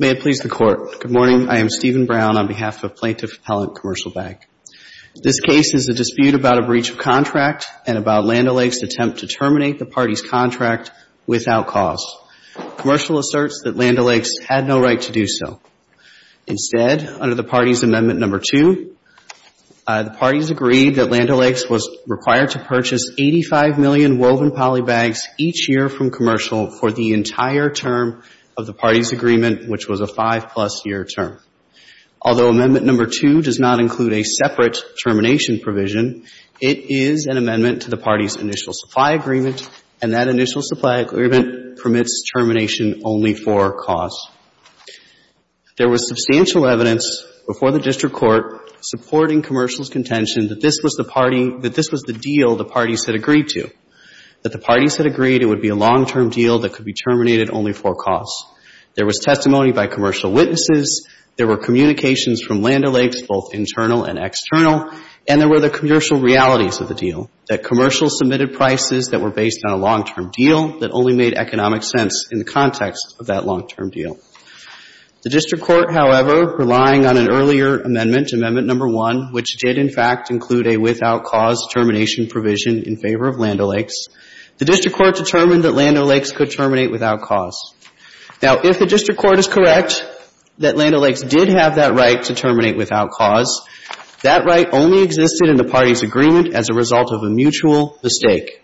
May it please the Court, good morning. I am Stephen Brown on behalf of Plaintiff Appellant Commercial Bank. This case is a dispute about a breach of contract and about Land O'Lakes' attempt to terminate the party's contract without cause. Commercial asserts that Land O'Lakes had no right to do so. Instead, under the party's Amendment No. 2, the parties agreed that Land O'Lakes was required to purchase 85 million woven poly bags each year from commercial for the entire term of the party's agreement, which was a five-plus year term. Although Amendment No. 2 does not include a separate termination provision, it is an agreement, and that initial supply agreement permits termination only for cause. There was substantial evidence before the district court supporting commercial's contention that this was the party — that this was the deal the parties had agreed to, that the parties had agreed it would be a long-term deal that could be terminated only for cause. There was testimony by commercial witnesses. There were communications from Land O'Lakes, both internal and external, and there were the commercial realities of the deal, that commercial submitted prices that were based on a long-term deal that only made economic sense in the context of that long-term deal. The district court, however, relying on an earlier amendment, Amendment No. 1, which did, in fact, include a without cause termination provision in favor of Land O'Lakes, the district court determined that Land O'Lakes could terminate without cause. Now, if the district court is correct that Land O'Lakes did have that right to terminate without cause, that right only existed in the party's agreement as a result of a mutual mistake.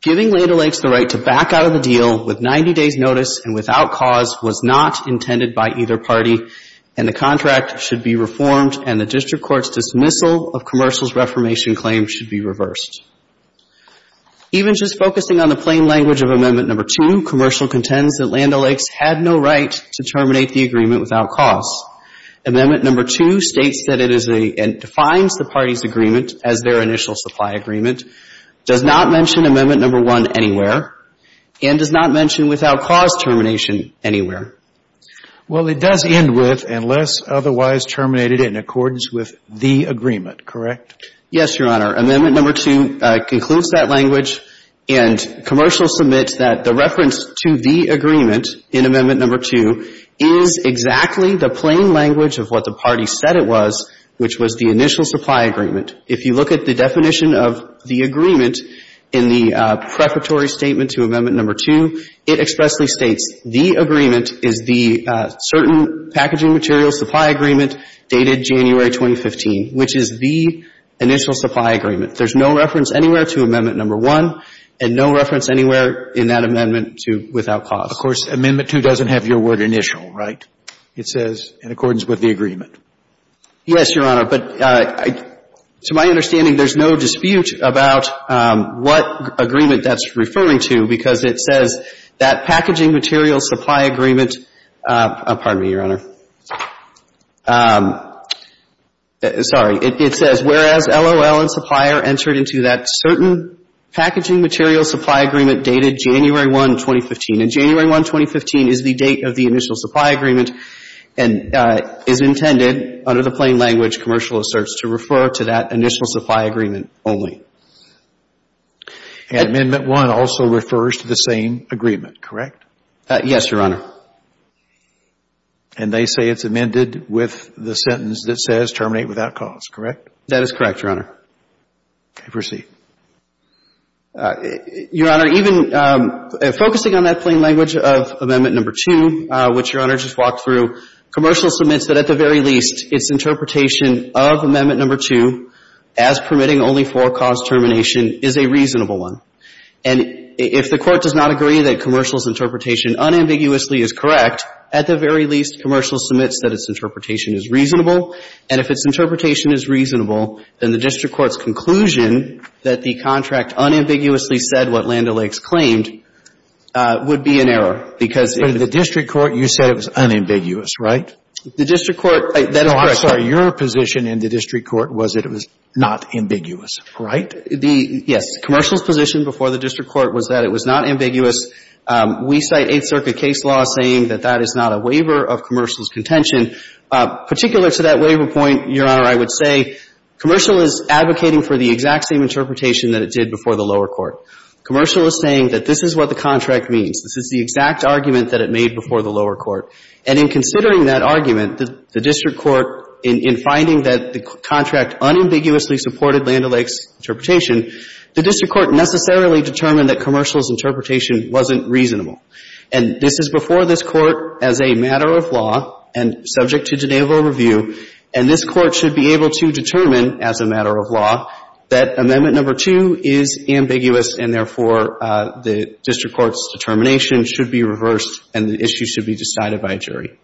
Giving Land O'Lakes the right to back out of the deal with 90 days' notice and without cause was not intended by either party, and the contract should be reformed and the district court's dismissal of commercial's reformation claim should be reversed. Even just focusing on the plain language of Amendment No. 2, commercial contends that Amendment No. 2 states that it is a — and defines the party's agreement as their initial supply agreement, does not mention Amendment No. 1 anywhere, and does not mention without cause termination anywhere. Well, it does end with, unless otherwise terminated in accordance with the agreement. Correct? Yes, Your Honor. Amendment No. 2 concludes that language, and commercial submits that the reference to the agreement in Amendment No. 2 is exactly the plain language of what the party said it was, which was the initial supply agreement. If you look at the definition of the agreement in the preparatory statement to Amendment No. 2, it expressly states the agreement is the certain packaging material supply agreement dated January 2015, which is the initial supply agreement. There's no reference anywhere to Amendment No. 1, and no reference anywhere in that amendment to without cause. Of course, Amendment 2 doesn't have your word initial, right? It says in accordance with the agreement. Yes, Your Honor. But to my understanding, there's no dispute about what agreement that's referring to, because it says that packaging material supply agreement — pardon me, Your Honor. Sorry. It says, whereas LOL and supplier entered into that certain packaging material supply agreement dated January 1, 2015, and January 1, 2015 is the date of the initial supply agreement, and is intended under the plain language commercial asserts to refer to that initial supply agreement only. And Amendment 1 also refers to the same agreement, correct? Yes, Your Honor. And they say it's amended with the sentence that says terminate without cause, correct? That is correct, Your Honor. Okay. Proceed. Your Honor, even focusing on that plain language of Amendment No. 2, which Your Honor just walked through, commercial submits that at the very least, its interpretation of Amendment No. 2 as permitting only for cause termination is a reasonable one. And if the Court does not agree that commercial's interpretation unambiguously is correct, at the very least, commercial submits that its interpretation is reasonable, and if its interpretation is reasonable, then the district court's conclusion that the contract unambiguously said what Land O'Lakes claimed would be an error, because if the district court you said it was unambiguous, right? The district court, that is correct. I'm sorry. Your position in the district court was that it was not ambiguous, right? The, yes, commercial's position before the district court was that it was not ambiguous. We cite Eighth Circuit case law saying that that is not a waiver of commercial's contention. Particular to that waiver point, Your Honor, I would say commercial is advocating for the exact same interpretation that it did before the lower court. Commercial is saying that this is what the contract means. This is the exact argument that it made before the lower court. to have unambiguously supported Land O'Lakes' interpretation, the district court necessarily determined that commercial's interpretation wasn't reasonable. And this is before this Court as a matter of law and subject to Geneva review, and this Court should be able to determine, as a matter of law, that Amendment No. 2 is ambiguous and, therefore, the district court's determination should be reversed and the issue should be decided by a jury.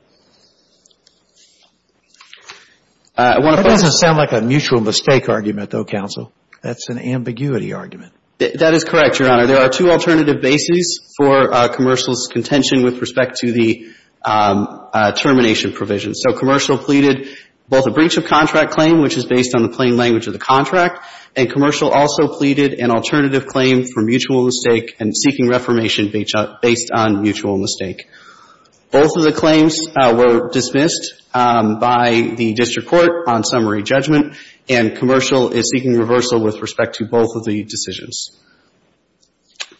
I want to point out to you. That doesn't sound like a mutual mistake argument, though, counsel. That's an ambiguity argument. That is correct, Your Honor. There are two alternative bases for commercial's contention with respect to the termination provision. So commercial pleaded both a breach of contract claim, which is based on the plain language of the contract, and commercial also pleaded an alternative claim for mutual mistake and seeking reformation based on mutual mistake. Both of the claims were dismissed by the district court on summary judgment, and commercial is seeking reversal with respect to both of the decisions.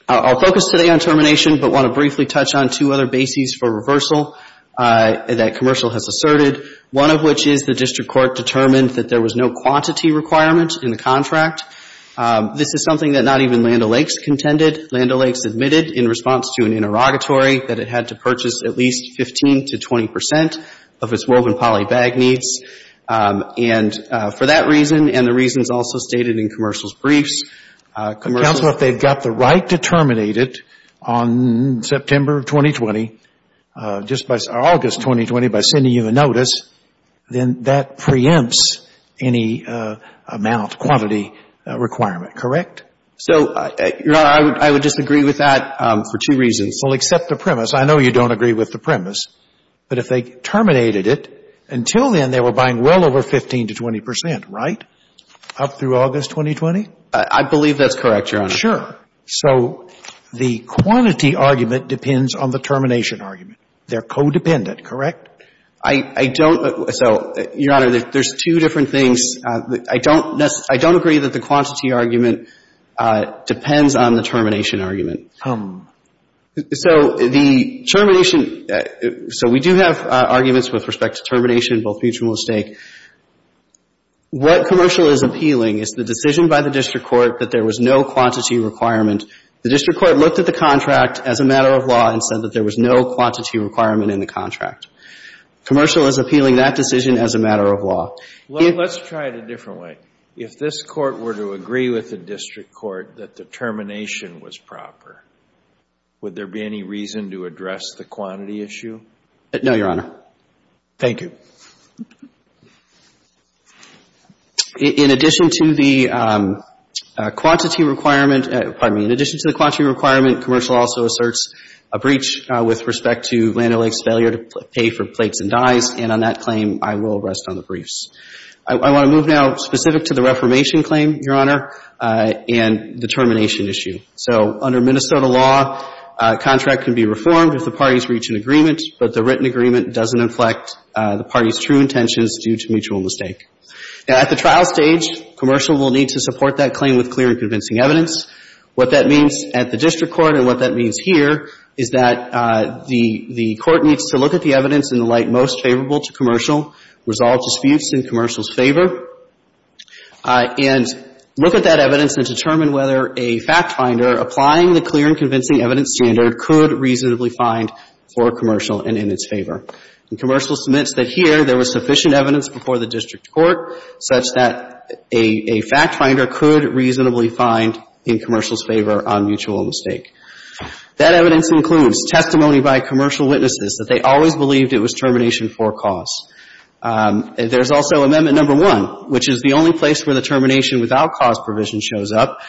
I'll focus today on termination but want to briefly touch on two other bases for reversal that commercial has asserted, one of which is the district court determined that there was no quantity requirement in the contract. This is something that not even Land O'Lakes contended. Land O'Lakes admitted in response to an interrogatory that it had to purchase at least 15 to 20 percent of its woven poly bag needs. And for that reason and the reasons also stated in commercial's briefs, commercial Counsel, if they've got the right to terminate it on September of 2020, just by August 2020, by sending you a notice, then that preempts any amount, quantity requirement. Correct? So, Your Honor, I would disagree with that for two reasons. Well, except the premise. I know you don't agree with the premise. But if they terminated it, until then they were buying well over 15 to 20 percent, right, up through August 2020? I believe that's correct, Your Honor. Sure. So the quantity argument depends on the termination argument. They're codependent, correct? I don't. So, Your Honor, there's two different things. I don't agree that the quantity argument depends on the termination argument. So the termination, so we do have arguments with respect to termination, both mutual and stake. What commercial is appealing is the decision by the district court that there was no quantity requirement. The district court looked at the contract as a matter of law and said that there was no quantity requirement in the contract. Commercial is appealing that decision as a matter of law. Well, let's try it a different way. If this court were to agree with the district court that the termination was proper, would there be any reason to address the quantity issue? No, Your Honor. Thank you. So, with respect to the quantity requirement, commercial also asserts a breach with respect to Land O'Lakes' failure to pay for plates and dyes. And on that claim, I will rest on the briefs. I want to move now specific to the reformation claim, Your Honor, and the termination issue. So under Minnesota law, a contract can be reformed if the parties reach an agreement, but the written agreement doesn't inflect the parties' true intentions due to mutual mistake. Now, at the trial stage, commercial will need to support that claim with clear and And what that means for the district court and what that means here is that the court needs to look at the evidence in the light most favorable to commercial, resolve disputes in commercial's favor, and look at that evidence and determine whether a fact finder applying the clear and convincing evidence standard could reasonably find for commercial and in its favor. And commercial submits that here there was sufficient evidence before the district court such that a fact finder could reasonably find in commercial's favor on mutual mistake. That evidence includes testimony by commercial witnesses that they always believed it was termination for cause. There's also Amendment No. 1, which is the only place where the termination without cause provision shows up.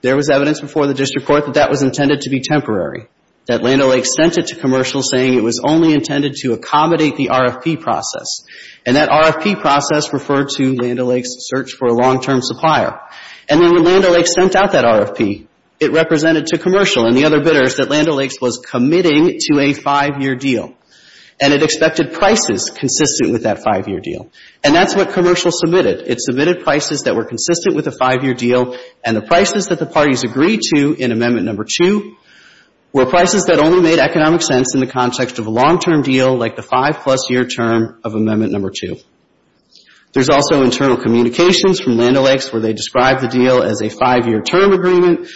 There was evidence before the district court that that was intended to be temporary, that Land O'Lakes sent it to commercial saying it was only intended to accommodate the RFP process. And that RFP process referred to Land O'Lakes' search for a long-term supplier. And then when Land O'Lakes sent out that RFP, it represented to commercial and the other bidders that Land O'Lakes was committing to a five-year deal. And it expected prices consistent with that five-year deal. And that's what commercial submitted. It submitted prices that were consistent with the five-year deal, and the prices that the parties agreed to in Amendment No. 2 were prices that only made economic sense in the context of a long-term deal like the five-plus-year term of Amendment No. 2. There's also internal communications from Land O'Lakes where they describe the deal as a five-year term agreement.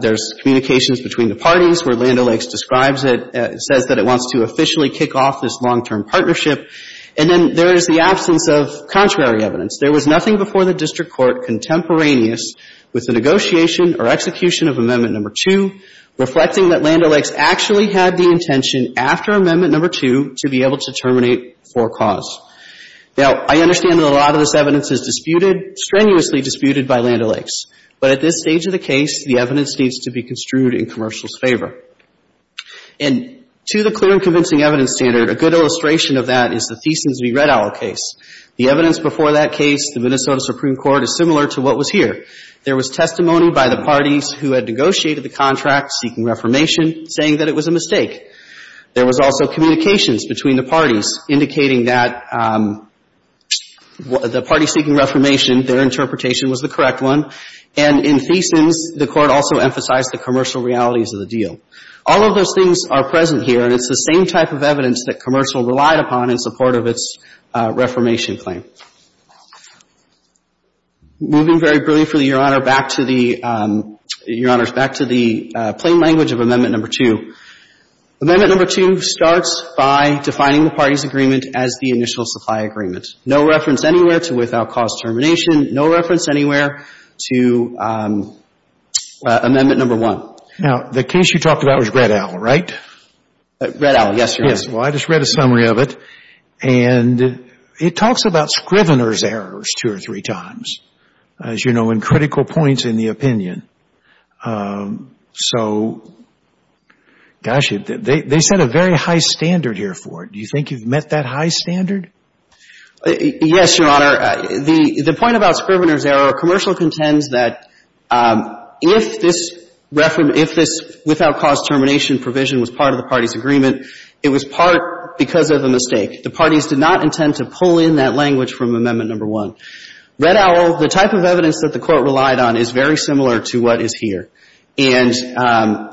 There's communications between the parties where Land O'Lakes describes it, says that it wants to officially kick off this long-term partnership. And then there is the absence of contrary evidence. There was nothing before the district court contemporaneous with the negotiation or execution of Amendment No. 2 reflecting that Land O'Lakes actually had the intention after Amendment No. 2 to be able to terminate for cause. Now, I understand that a lot of this evidence is disputed, strenuously disputed by Land O'Lakes. But at this stage of the case, the evidence needs to be construed in commercial's favor. And to the clear and convincing evidence standard, a good illustration of that is the Thiessen v. Red Owl case. The evidence before that case, the Minnesota Supreme Court, is similar to what was here. There was testimony by the parties who had negotiated the contract seeking reformation saying that it was a mistake. There was also communications between the parties indicating that the parties seeking reformation, their interpretation was the correct one. And in Thiessen's, the Court also emphasized the commercial realities of the deal. All of those things are present here. And it's the same type of evidence that commercial relied upon in support of its reformation claim. Moving very briefly, Your Honor, back to the, Your Honors, back to the plain language of Amendment No. 2. Amendment No. 2 starts by defining the parties' agreement as the initial supply agreement. No reference anywhere to without cause termination. No reference anywhere to Amendment No. 1. Now, the case you talked about was Red Owl, right? Red Owl, yes, Your Honor. Yes. Well, I just read a summary of it. And it talks about Scrivener's errors two or three times, as you know, and critical points in the opinion. So, gosh, they set a very high standard here for it. Do you think you've met that high standard? Yes, Your Honor. The point about Scrivener's error, commercial contends that if this without cause termination provision was part of the parties' agreement, it was part because of a mistake. The parties did not intend to pull in that language from Amendment No. 1. Red Owl, the type of evidence that the Court relied on is very similar to what is here. And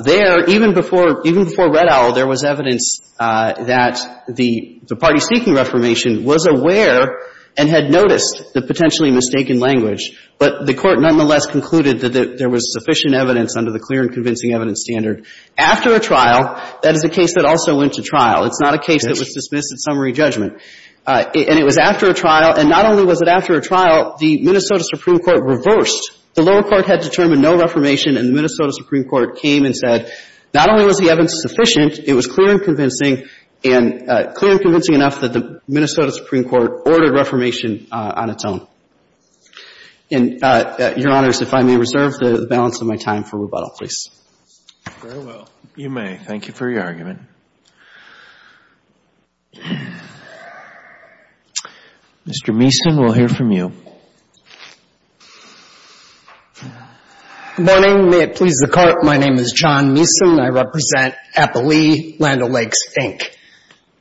there, even before Red Owl, there was evidence that the party seeking Reformation was aware and had noticed the potentially mistaken language. But the Court nonetheless concluded that there was sufficient evidence under the clear and convincing evidence standard. After a trial, that is a case that also went to trial. It's not a case that was dismissed at summary judgment. And it was after a trial. And not only was it after a trial, the Minnesota Supreme Court reversed. The lower court had determined no Reformation, and the Minnesota Supreme Court came and said, not only was the evidence sufficient, it was clear and convincing, and clear and convincing enough that the Minnesota Supreme Court ordered Reformation on its own. And, Your Honors, if I may reserve the balance of my time for rebuttal, please. Very well. You may. Thank you for your argument. Mr. Meason, we'll hear from you. Good morning. May it please the Court. My name is John Meason. I represent Appali Land O'Lakes, Inc.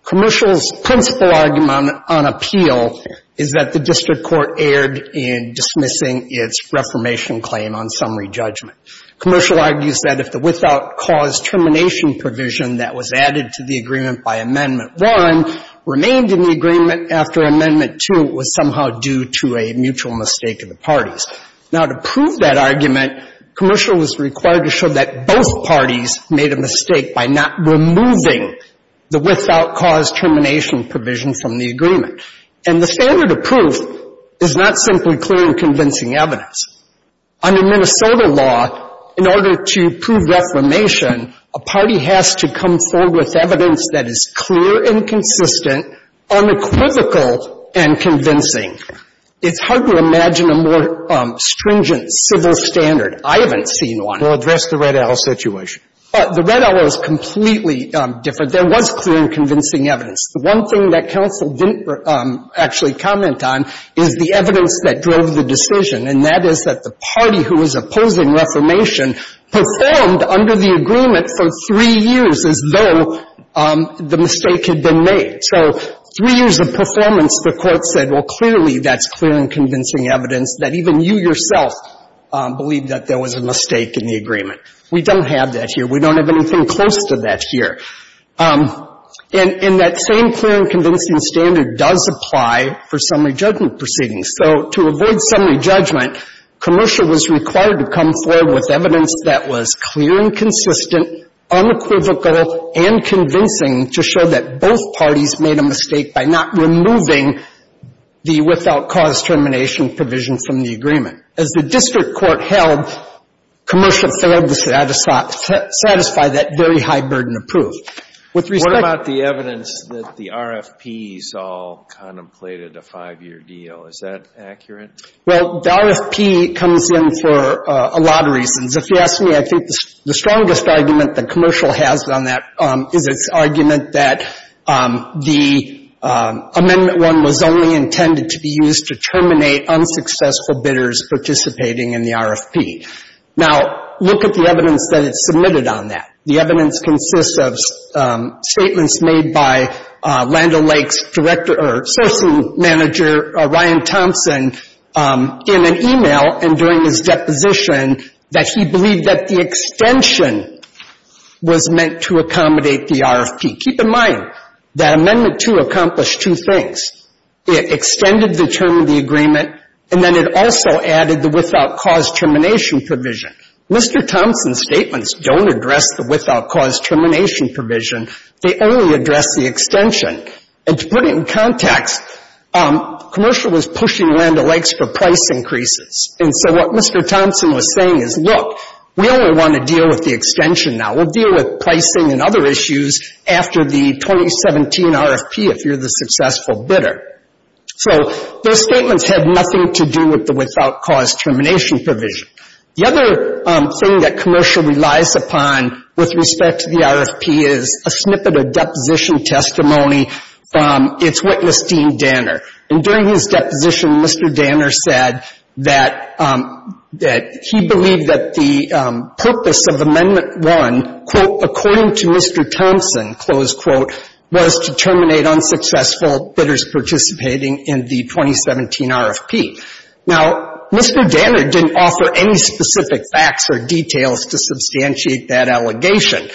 Commercial's principal argument on appeal is that the district court erred in dismissing its Reformation claim on summary judgment. Commercial argues that if the without cause termination provision that was in effect was added to the agreement by Amendment 1, remained in the agreement after Amendment 2, it was somehow due to a mutual mistake of the parties. Now, to prove that argument, Commercial was required to show that both parties made a mistake by not removing the without cause termination provision from the agreement. And the standard of proof is not simply clear and convincing evidence. Under Minnesota law, in order to prove Reformation, a party has to come forward with evidence that is clear and consistent, unequivocal and convincing. It's hard to imagine a more stringent civil standard. I haven't seen one. Well, address the Red Arrow situation. The Red Arrow is completely different. There was clear and convincing evidence. The one thing that Counsel didn't actually comment on is the evidence that drove the decision, and that is that the party who was opposing Reformation performed under the agreement for three years as though the mistake had been made. So three years of performance, the Court said, well, clearly that's clear and convincing evidence that even you yourself believed that there was a mistake in the agreement. We don't have that here. We don't have anything close to that here. And that same clear and convincing standard does apply for summary judgment proceedings. So to avoid summary judgment, commercial was required to come forward with evidence that was clear and consistent, unequivocal and convincing to show that both parties made a mistake by not removing the without cause termination provision from the agreement. As the district court held, commercial failed to satisfy that very high burden of proof. With respect to the evidence that the RFPs all contemplated a five-year deal, is that accurate? Well, the RFP comes in for a lot of reasons. If you ask me, I think the strongest argument that commercial has on that is its argument that the Amendment 1 was only intended to be used to terminate unsuccessful bidders participating in the RFP. Now, look at the evidence that is submitted on that. The evidence consists of statements made by Land O'Lakes director or sourcing manager Ryan Thompson in an e-mail and during his deposition that he believed that the extension was meant to accommodate the RFP. Keep in mind that Amendment 2 accomplished two things. It extended the term of the agreement, and then it also added the without cause termination provision. Mr. Thompson's statements don't address the without cause termination provision. They only address the extension. And to put it in context, commercial was pushing Land O'Lakes for price increases. And so what Mr. Thompson was saying is, look, we only want to deal with the extension now. We'll deal with pricing and other issues after the 2017 RFP if you're the successful bidder. So those statements had nothing to do with the without cause termination provision. The other thing that commercial relies upon with respect to the RFP is a snippet of deposition testimony from its witness, Dean Danner. And during his deposition, Mr. Danner said that he believed that the purpose of Amendment 1, quote, according to Mr. Thompson, close quote, was to terminate unsuccessful bidders participating in the 2017 RFP. Now, Mr. Danner didn't offer any specific facts or details to substantiate that allegation,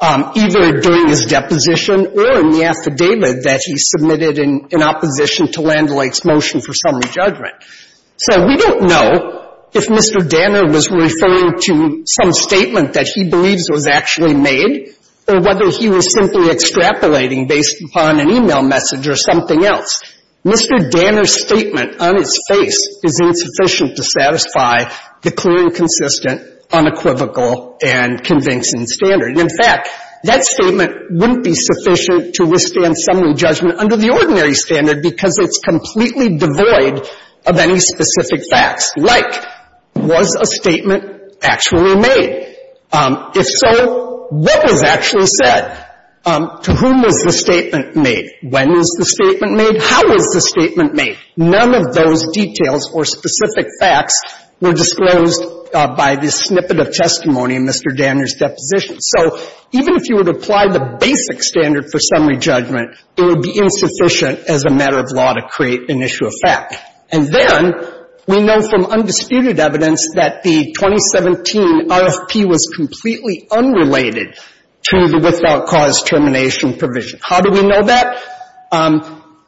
either during his deposition or in the affidavit that he submitted in opposition to Land O'Lakes' motion for summary judgment. So we don't know if Mr. Danner was referring to some statement that he believes was actually made or whether he was simply extrapolating based upon an e-mail message or something else. Mr. Danner's statement on his face is insufficient to satisfy the clear and consistent, unequivocal, and convincing standard. In fact, that statement wouldn't be sufficient to withstand summary judgment under the ordinary standard because it's completely devoid of any specific facts. Like, was a statement actually made? If so, what was actually said? To whom was the statement made? When was the statement made? How was the statement made? None of those details or specific facts were disclosed by the snippet of testimony in Mr. Danner's deposition. So even if you would apply the basic standard for summary judgment, it would be insufficient as a matter of law to create an issue of fact. And then we know from undisputed evidence that the 2017 RFP was completely unrelated to the without cause termination provision. How do we know that?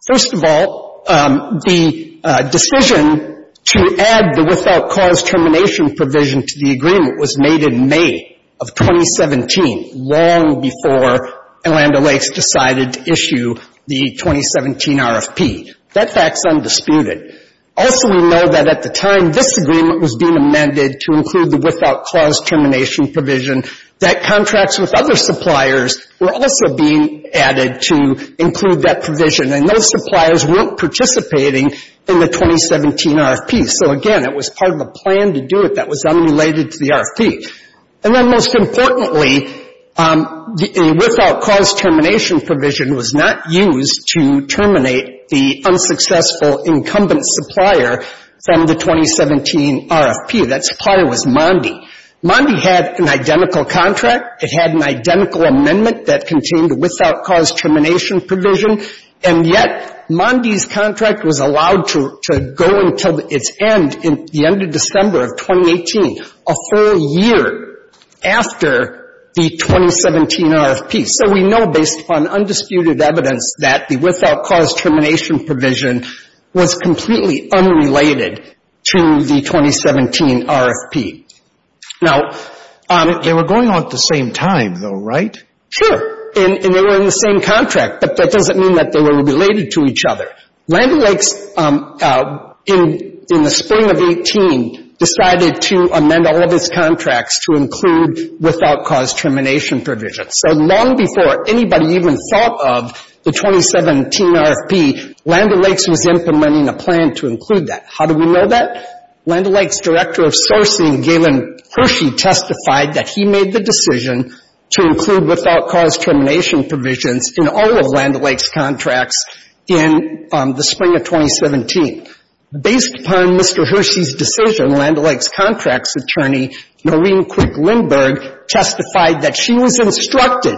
First of all, the decision to add the without cause termination provision to the agreement was made in May of 2017, long before Orlando Lakes decided to issue the 2017 RFP. That fact's undisputed. Also, we know that at the time this agreement was being amended to include the without were also being added to include that provision. And those suppliers weren't participating in the 2017 RFP. So again, it was part of a plan to do it that was unrelated to the RFP. And then most importantly, the without cause termination provision was not used to terminate the unsuccessful incumbent supplier from the 2017 RFP. That supplier was Mondi. Mondi had an identical contract. It had an identical amendment that contained a without cause termination provision. And yet Mondi's contract was allowed to go until its end in the end of December of 2018, a full year after the 2017 RFP. So we know based on undisputed evidence that the without cause termination provision was completely unrelated to the 2017 RFP. Now... They were going on at the same time, though, right? Sure. And they were in the same contract. But that doesn't mean that they were related to each other. Land O'Lakes, in the spring of 18, decided to amend all of its contracts to include without cause termination provisions. So long before anybody even thought of the 2017 RFP, Land O'Lakes was implementing a plan to include that. How do we know that? Land O'Lakes' director of sourcing, Galen Hershey, testified that he made the decision to include without cause termination provisions in all of Land O'Lakes' contracts in the spring of 2017. Based upon Mr. Hershey's decision, Land O'Lakes' contracts attorney, Noreen Quick-Lindberg, testified that she was instructed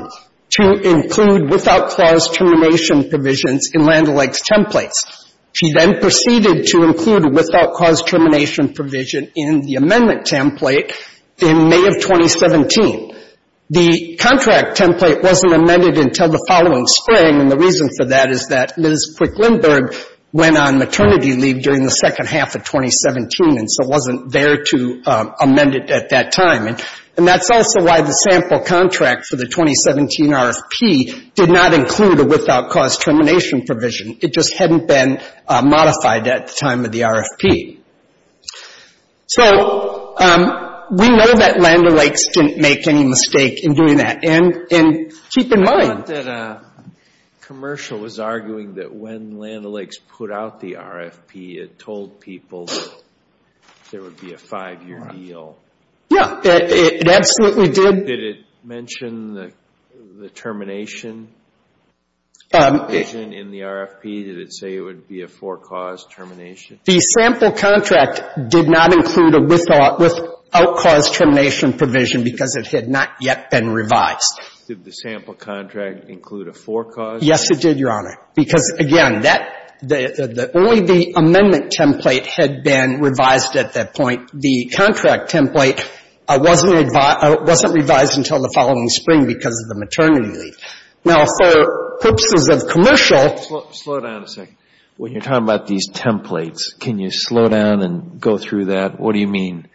to include without cause termination provisions in Land O'Lakes' templates. She then proceeded to include a without cause termination provision in the amendment template in May of 2017. The contract template wasn't amended until the following spring, and the reason for that is that Ms. Quick-Lindberg went on maternity leave during the second half of 2017 and so wasn't there to amend it at that time. And that's also why the sample contract for the 2017 RFP did not include a without cause termination provision. It just hadn't been modified at the time of the RFP. So we know that Land O'Lakes didn't make any mistake in doing that, and keep in mind that a commercial was arguing that when Land O'Lakes put out the RFP, it told people there would be a five-year deal. Yeah, it absolutely did. Did it mention the termination provision in the RFP? Did it say it would be a four-cause termination? The sample contract did not include a without cause termination provision because it had not yet been revised. Did the sample contract include a four-cause? Yes, it did, Your Honor. Because, again, that the only the amendment template had been revised at that point. The contract template wasn't revised until the following spring because of the maternity leave. Now, for purposes of commercial Slow down a second. When you're talking about these templates, can you slow down and go through that? What do you mean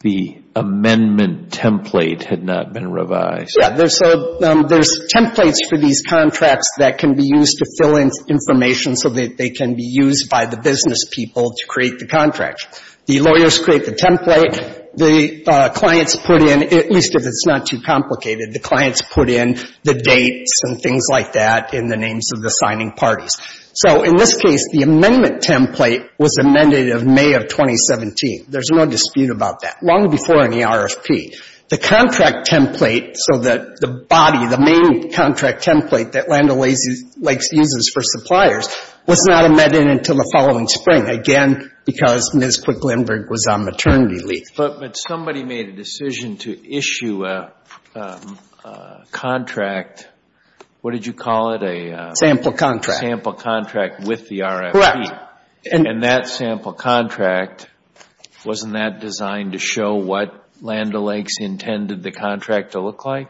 the amendment template had not been revised? Yeah. So there's templates for these contracts that can be used to fill in information so that they can be used by the business people to create the contract. The lawyers create the template. The clients put in, at least if it's not too complicated, the clients put in the dates and things like that in the names of the signing parties. So in this case, the amendment template was amended in May of 2017. There's no dispute about that, long before in the RFP. The contract template, so that the body, the main contract template that Land O'Lakes uses for suppliers, was not amended until the following spring, again, because Ms. Quick-Lindberg was on maternity leave. But somebody made a decision to issue a contract. What did you call it? A sample contract. A sample contract with the RFP. Correct. And that sample contract, wasn't that designed to show what Land O'Lakes intended the contract to look like?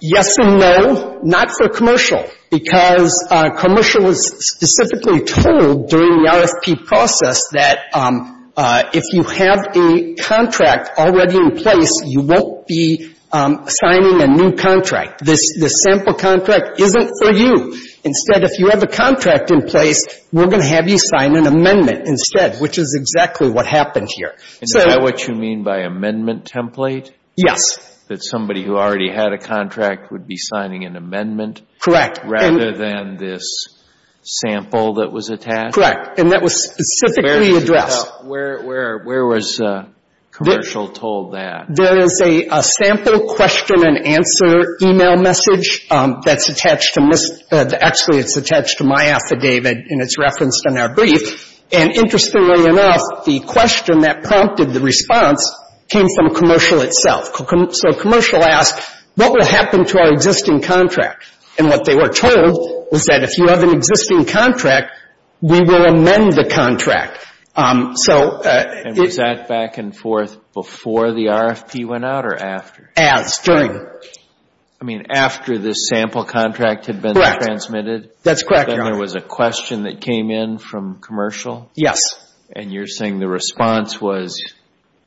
Yes and no. Not for commercial, because commercial was specifically told during the RFP process that if you have a contract already in place, you won't be signing a new contract. This sample contract isn't for you. Instead, if you have a contract in place, we're going to have you sign an amendment instead, which is exactly what happened here. Is that what you mean by amendment template? Yes. That somebody who already had a contract would be signing an amendment? Correct. Rather than this sample that was attached? Correct. And that was specifically addressed. Where was commercial told that? There is a sample question and answer e-mail message that's attached to Ms. — actually, it's attached to my affidavit, and it's referenced in our brief. And interestingly enough, the question that prompted the response came from commercial itself. So commercial asked, what will happen to our existing contract? And what they were told was that if you have an existing contract, we will amend the contract. So — And was that back and forth before the RFP went out or after? As, during. I mean, after this sample contract had been transmitted? Correct. That's correct, Your Honor. And then there was a question that came in from commercial? Yes. And you're saying the response was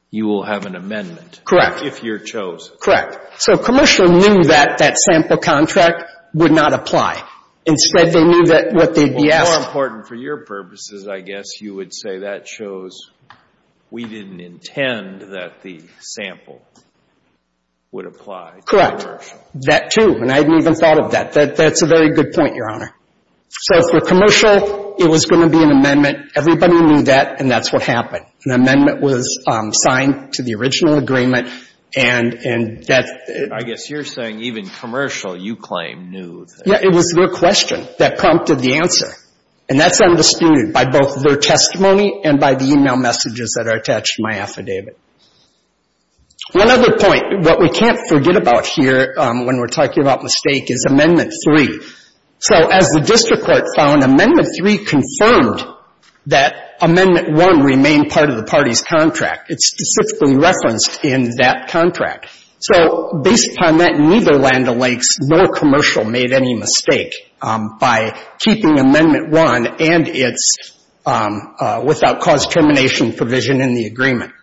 you will have an amendment. Correct. If you're chosen. Correct. So commercial knew that that sample contract would not apply. Instead, they knew that what they'd be asked — Well, more important for your purposes, I guess, you would say that shows we didn't intend that the sample would apply to commercial. Correct. That, too. And I hadn't even thought of that. That's a very good point, Your Honor. So for commercial, it was going to be an amendment. Everybody knew that, and that's what happened. An amendment was signed to the original agreement, and that — I guess you're saying even commercial, you claim, knew that. Yeah, it was their question that prompted the answer. And that's undisputed by both their testimony and by the e-mail messages that are attached to my affidavit. One other point. What we can't forget about here when we're talking about mistake is Amendment 3. So as the district court found, Amendment 3 confirmed that Amendment 1 remained part of the party's contract. It's specifically referenced in that contract. So based upon that, neither Land O'Lakes nor commercial made any mistake by keeping Amendment 1 and its without cause termination provision in the agreement.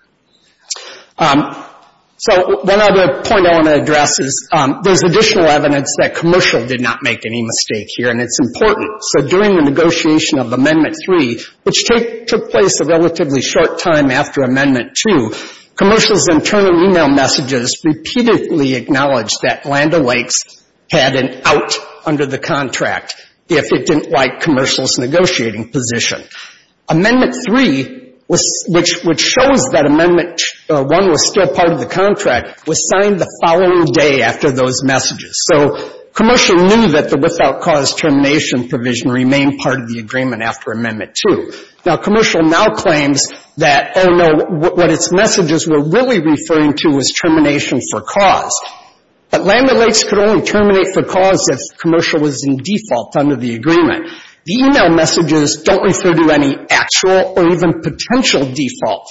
So one other point I want to address is there's additional evidence that commercial did not make any mistake here, and it's important. So during the negotiation of Amendment 3, which took place a relatively short time after Amendment 2, commercial's internal e-mail messages repeatedly acknowledged that Land O'Lakes had an out under the contract if it didn't like commercial's negotiating position. Amendment 3, which shows that Amendment 1 was still part of the contract, was signed the following day after those messages. So commercial knew that the without cause termination provision remained part of the agreement after Amendment 2. Now, commercial now claims that, oh, no, what its messages were really referring to was termination for cause. But Land O'Lakes could only terminate for cause if commercial was in default under the agreement. The e-mail messages don't refer to any actual or even potential default.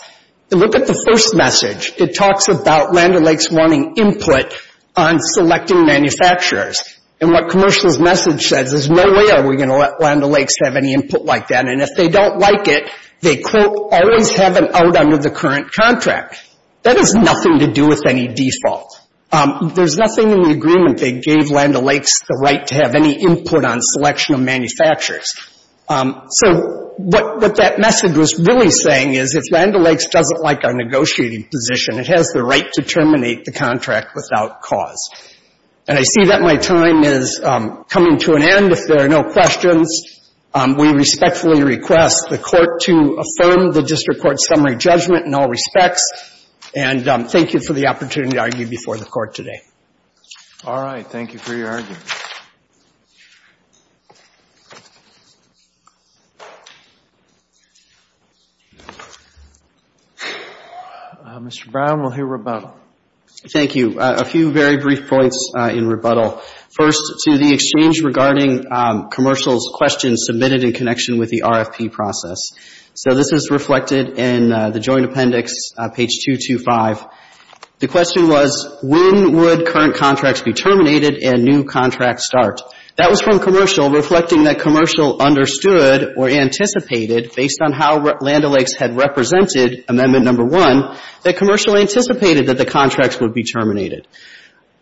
If you look at the first message, it talks about Land O'Lakes wanting input on selecting manufacturers. And what commercial's message says, there's no way are we going to let Land O'Lakes have any input like that. And if they don't like it, they, quote, always have an out under the current contract. That has nothing to do with any default. There's nothing in the agreement that gave Land O'Lakes the right to have any input on selection of manufacturers. So what that message was really saying is if Land O'Lakes doesn't like our negotiating position, it has the right to terminate the contract without cause. And I see that my time is coming to an end. If there are no questions, we respectfully request the Court to affirm the district court summary judgment in all respects. And thank you for the opportunity to argue before the Court today. All right. Thank you for your argument. Mr. Brown, we'll hear rebuttal. Thank you. A few very brief points in rebuttal. First, to the exchange regarding commercial's question submitted in connection with the RFP process. So this is reflected in the joint appendix, page 225. The question was, when would current contracts be terminated and new contracts start? That was from commercial, reflecting that commercial understood or anticipated, based on how Land O'Lakes had represented Amendment No. 1, that commercial anticipated that the contracts would be terminated.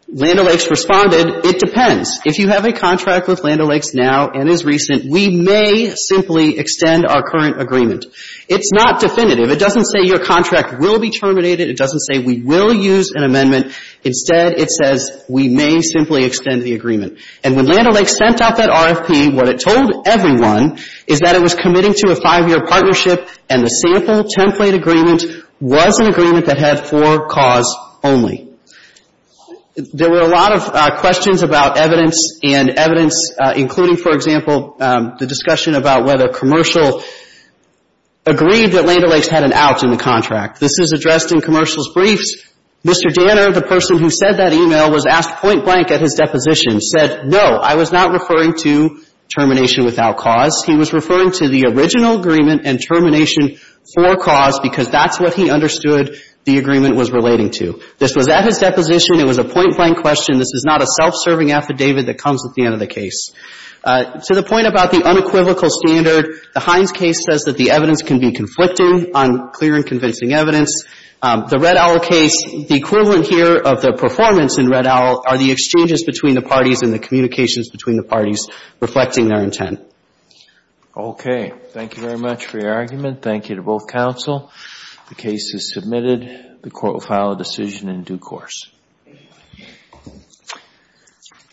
Land O'Lakes responded, it depends. If you have a contract with Land O'Lakes now and is recent, we may simply extend our current agreement. It's not definitive. It doesn't say your contract will be terminated. It doesn't say we will use an amendment. Instead, it says we may simply extend the agreement. And when Land O'Lakes sent out that RFP, what it told everyone is that it was committing to a five-year partnership and the sample template agreement was an agreement that had four cause only. There were a lot of questions about evidence, and evidence including, for example, the discussion about whether commercial agreed that Land O'Lakes had an out in the contract. This is addressed in commercial's briefs. Mr. Danner, the person who sent that email, was asked point blank at his deposition, said, no, I was not referring to termination without cause. He was referring to the original agreement and termination for cause because that's what he understood the agreement was relating to. This was at his deposition. It was a point blank question. This is not a self-serving affidavit that comes at the end of the case. To the point about the unequivocal standard, the Hines case says that the evidence can be conflicting on clear and convincing evidence. The Red Owl case, the equivalent here of the performance in Red Owl are the exchanges between the parties and the communications between the parties reflecting their intent. Okay. Thank you very much for your argument. Thank you to both counsel. The case is submitted. The court will file a decision in due course.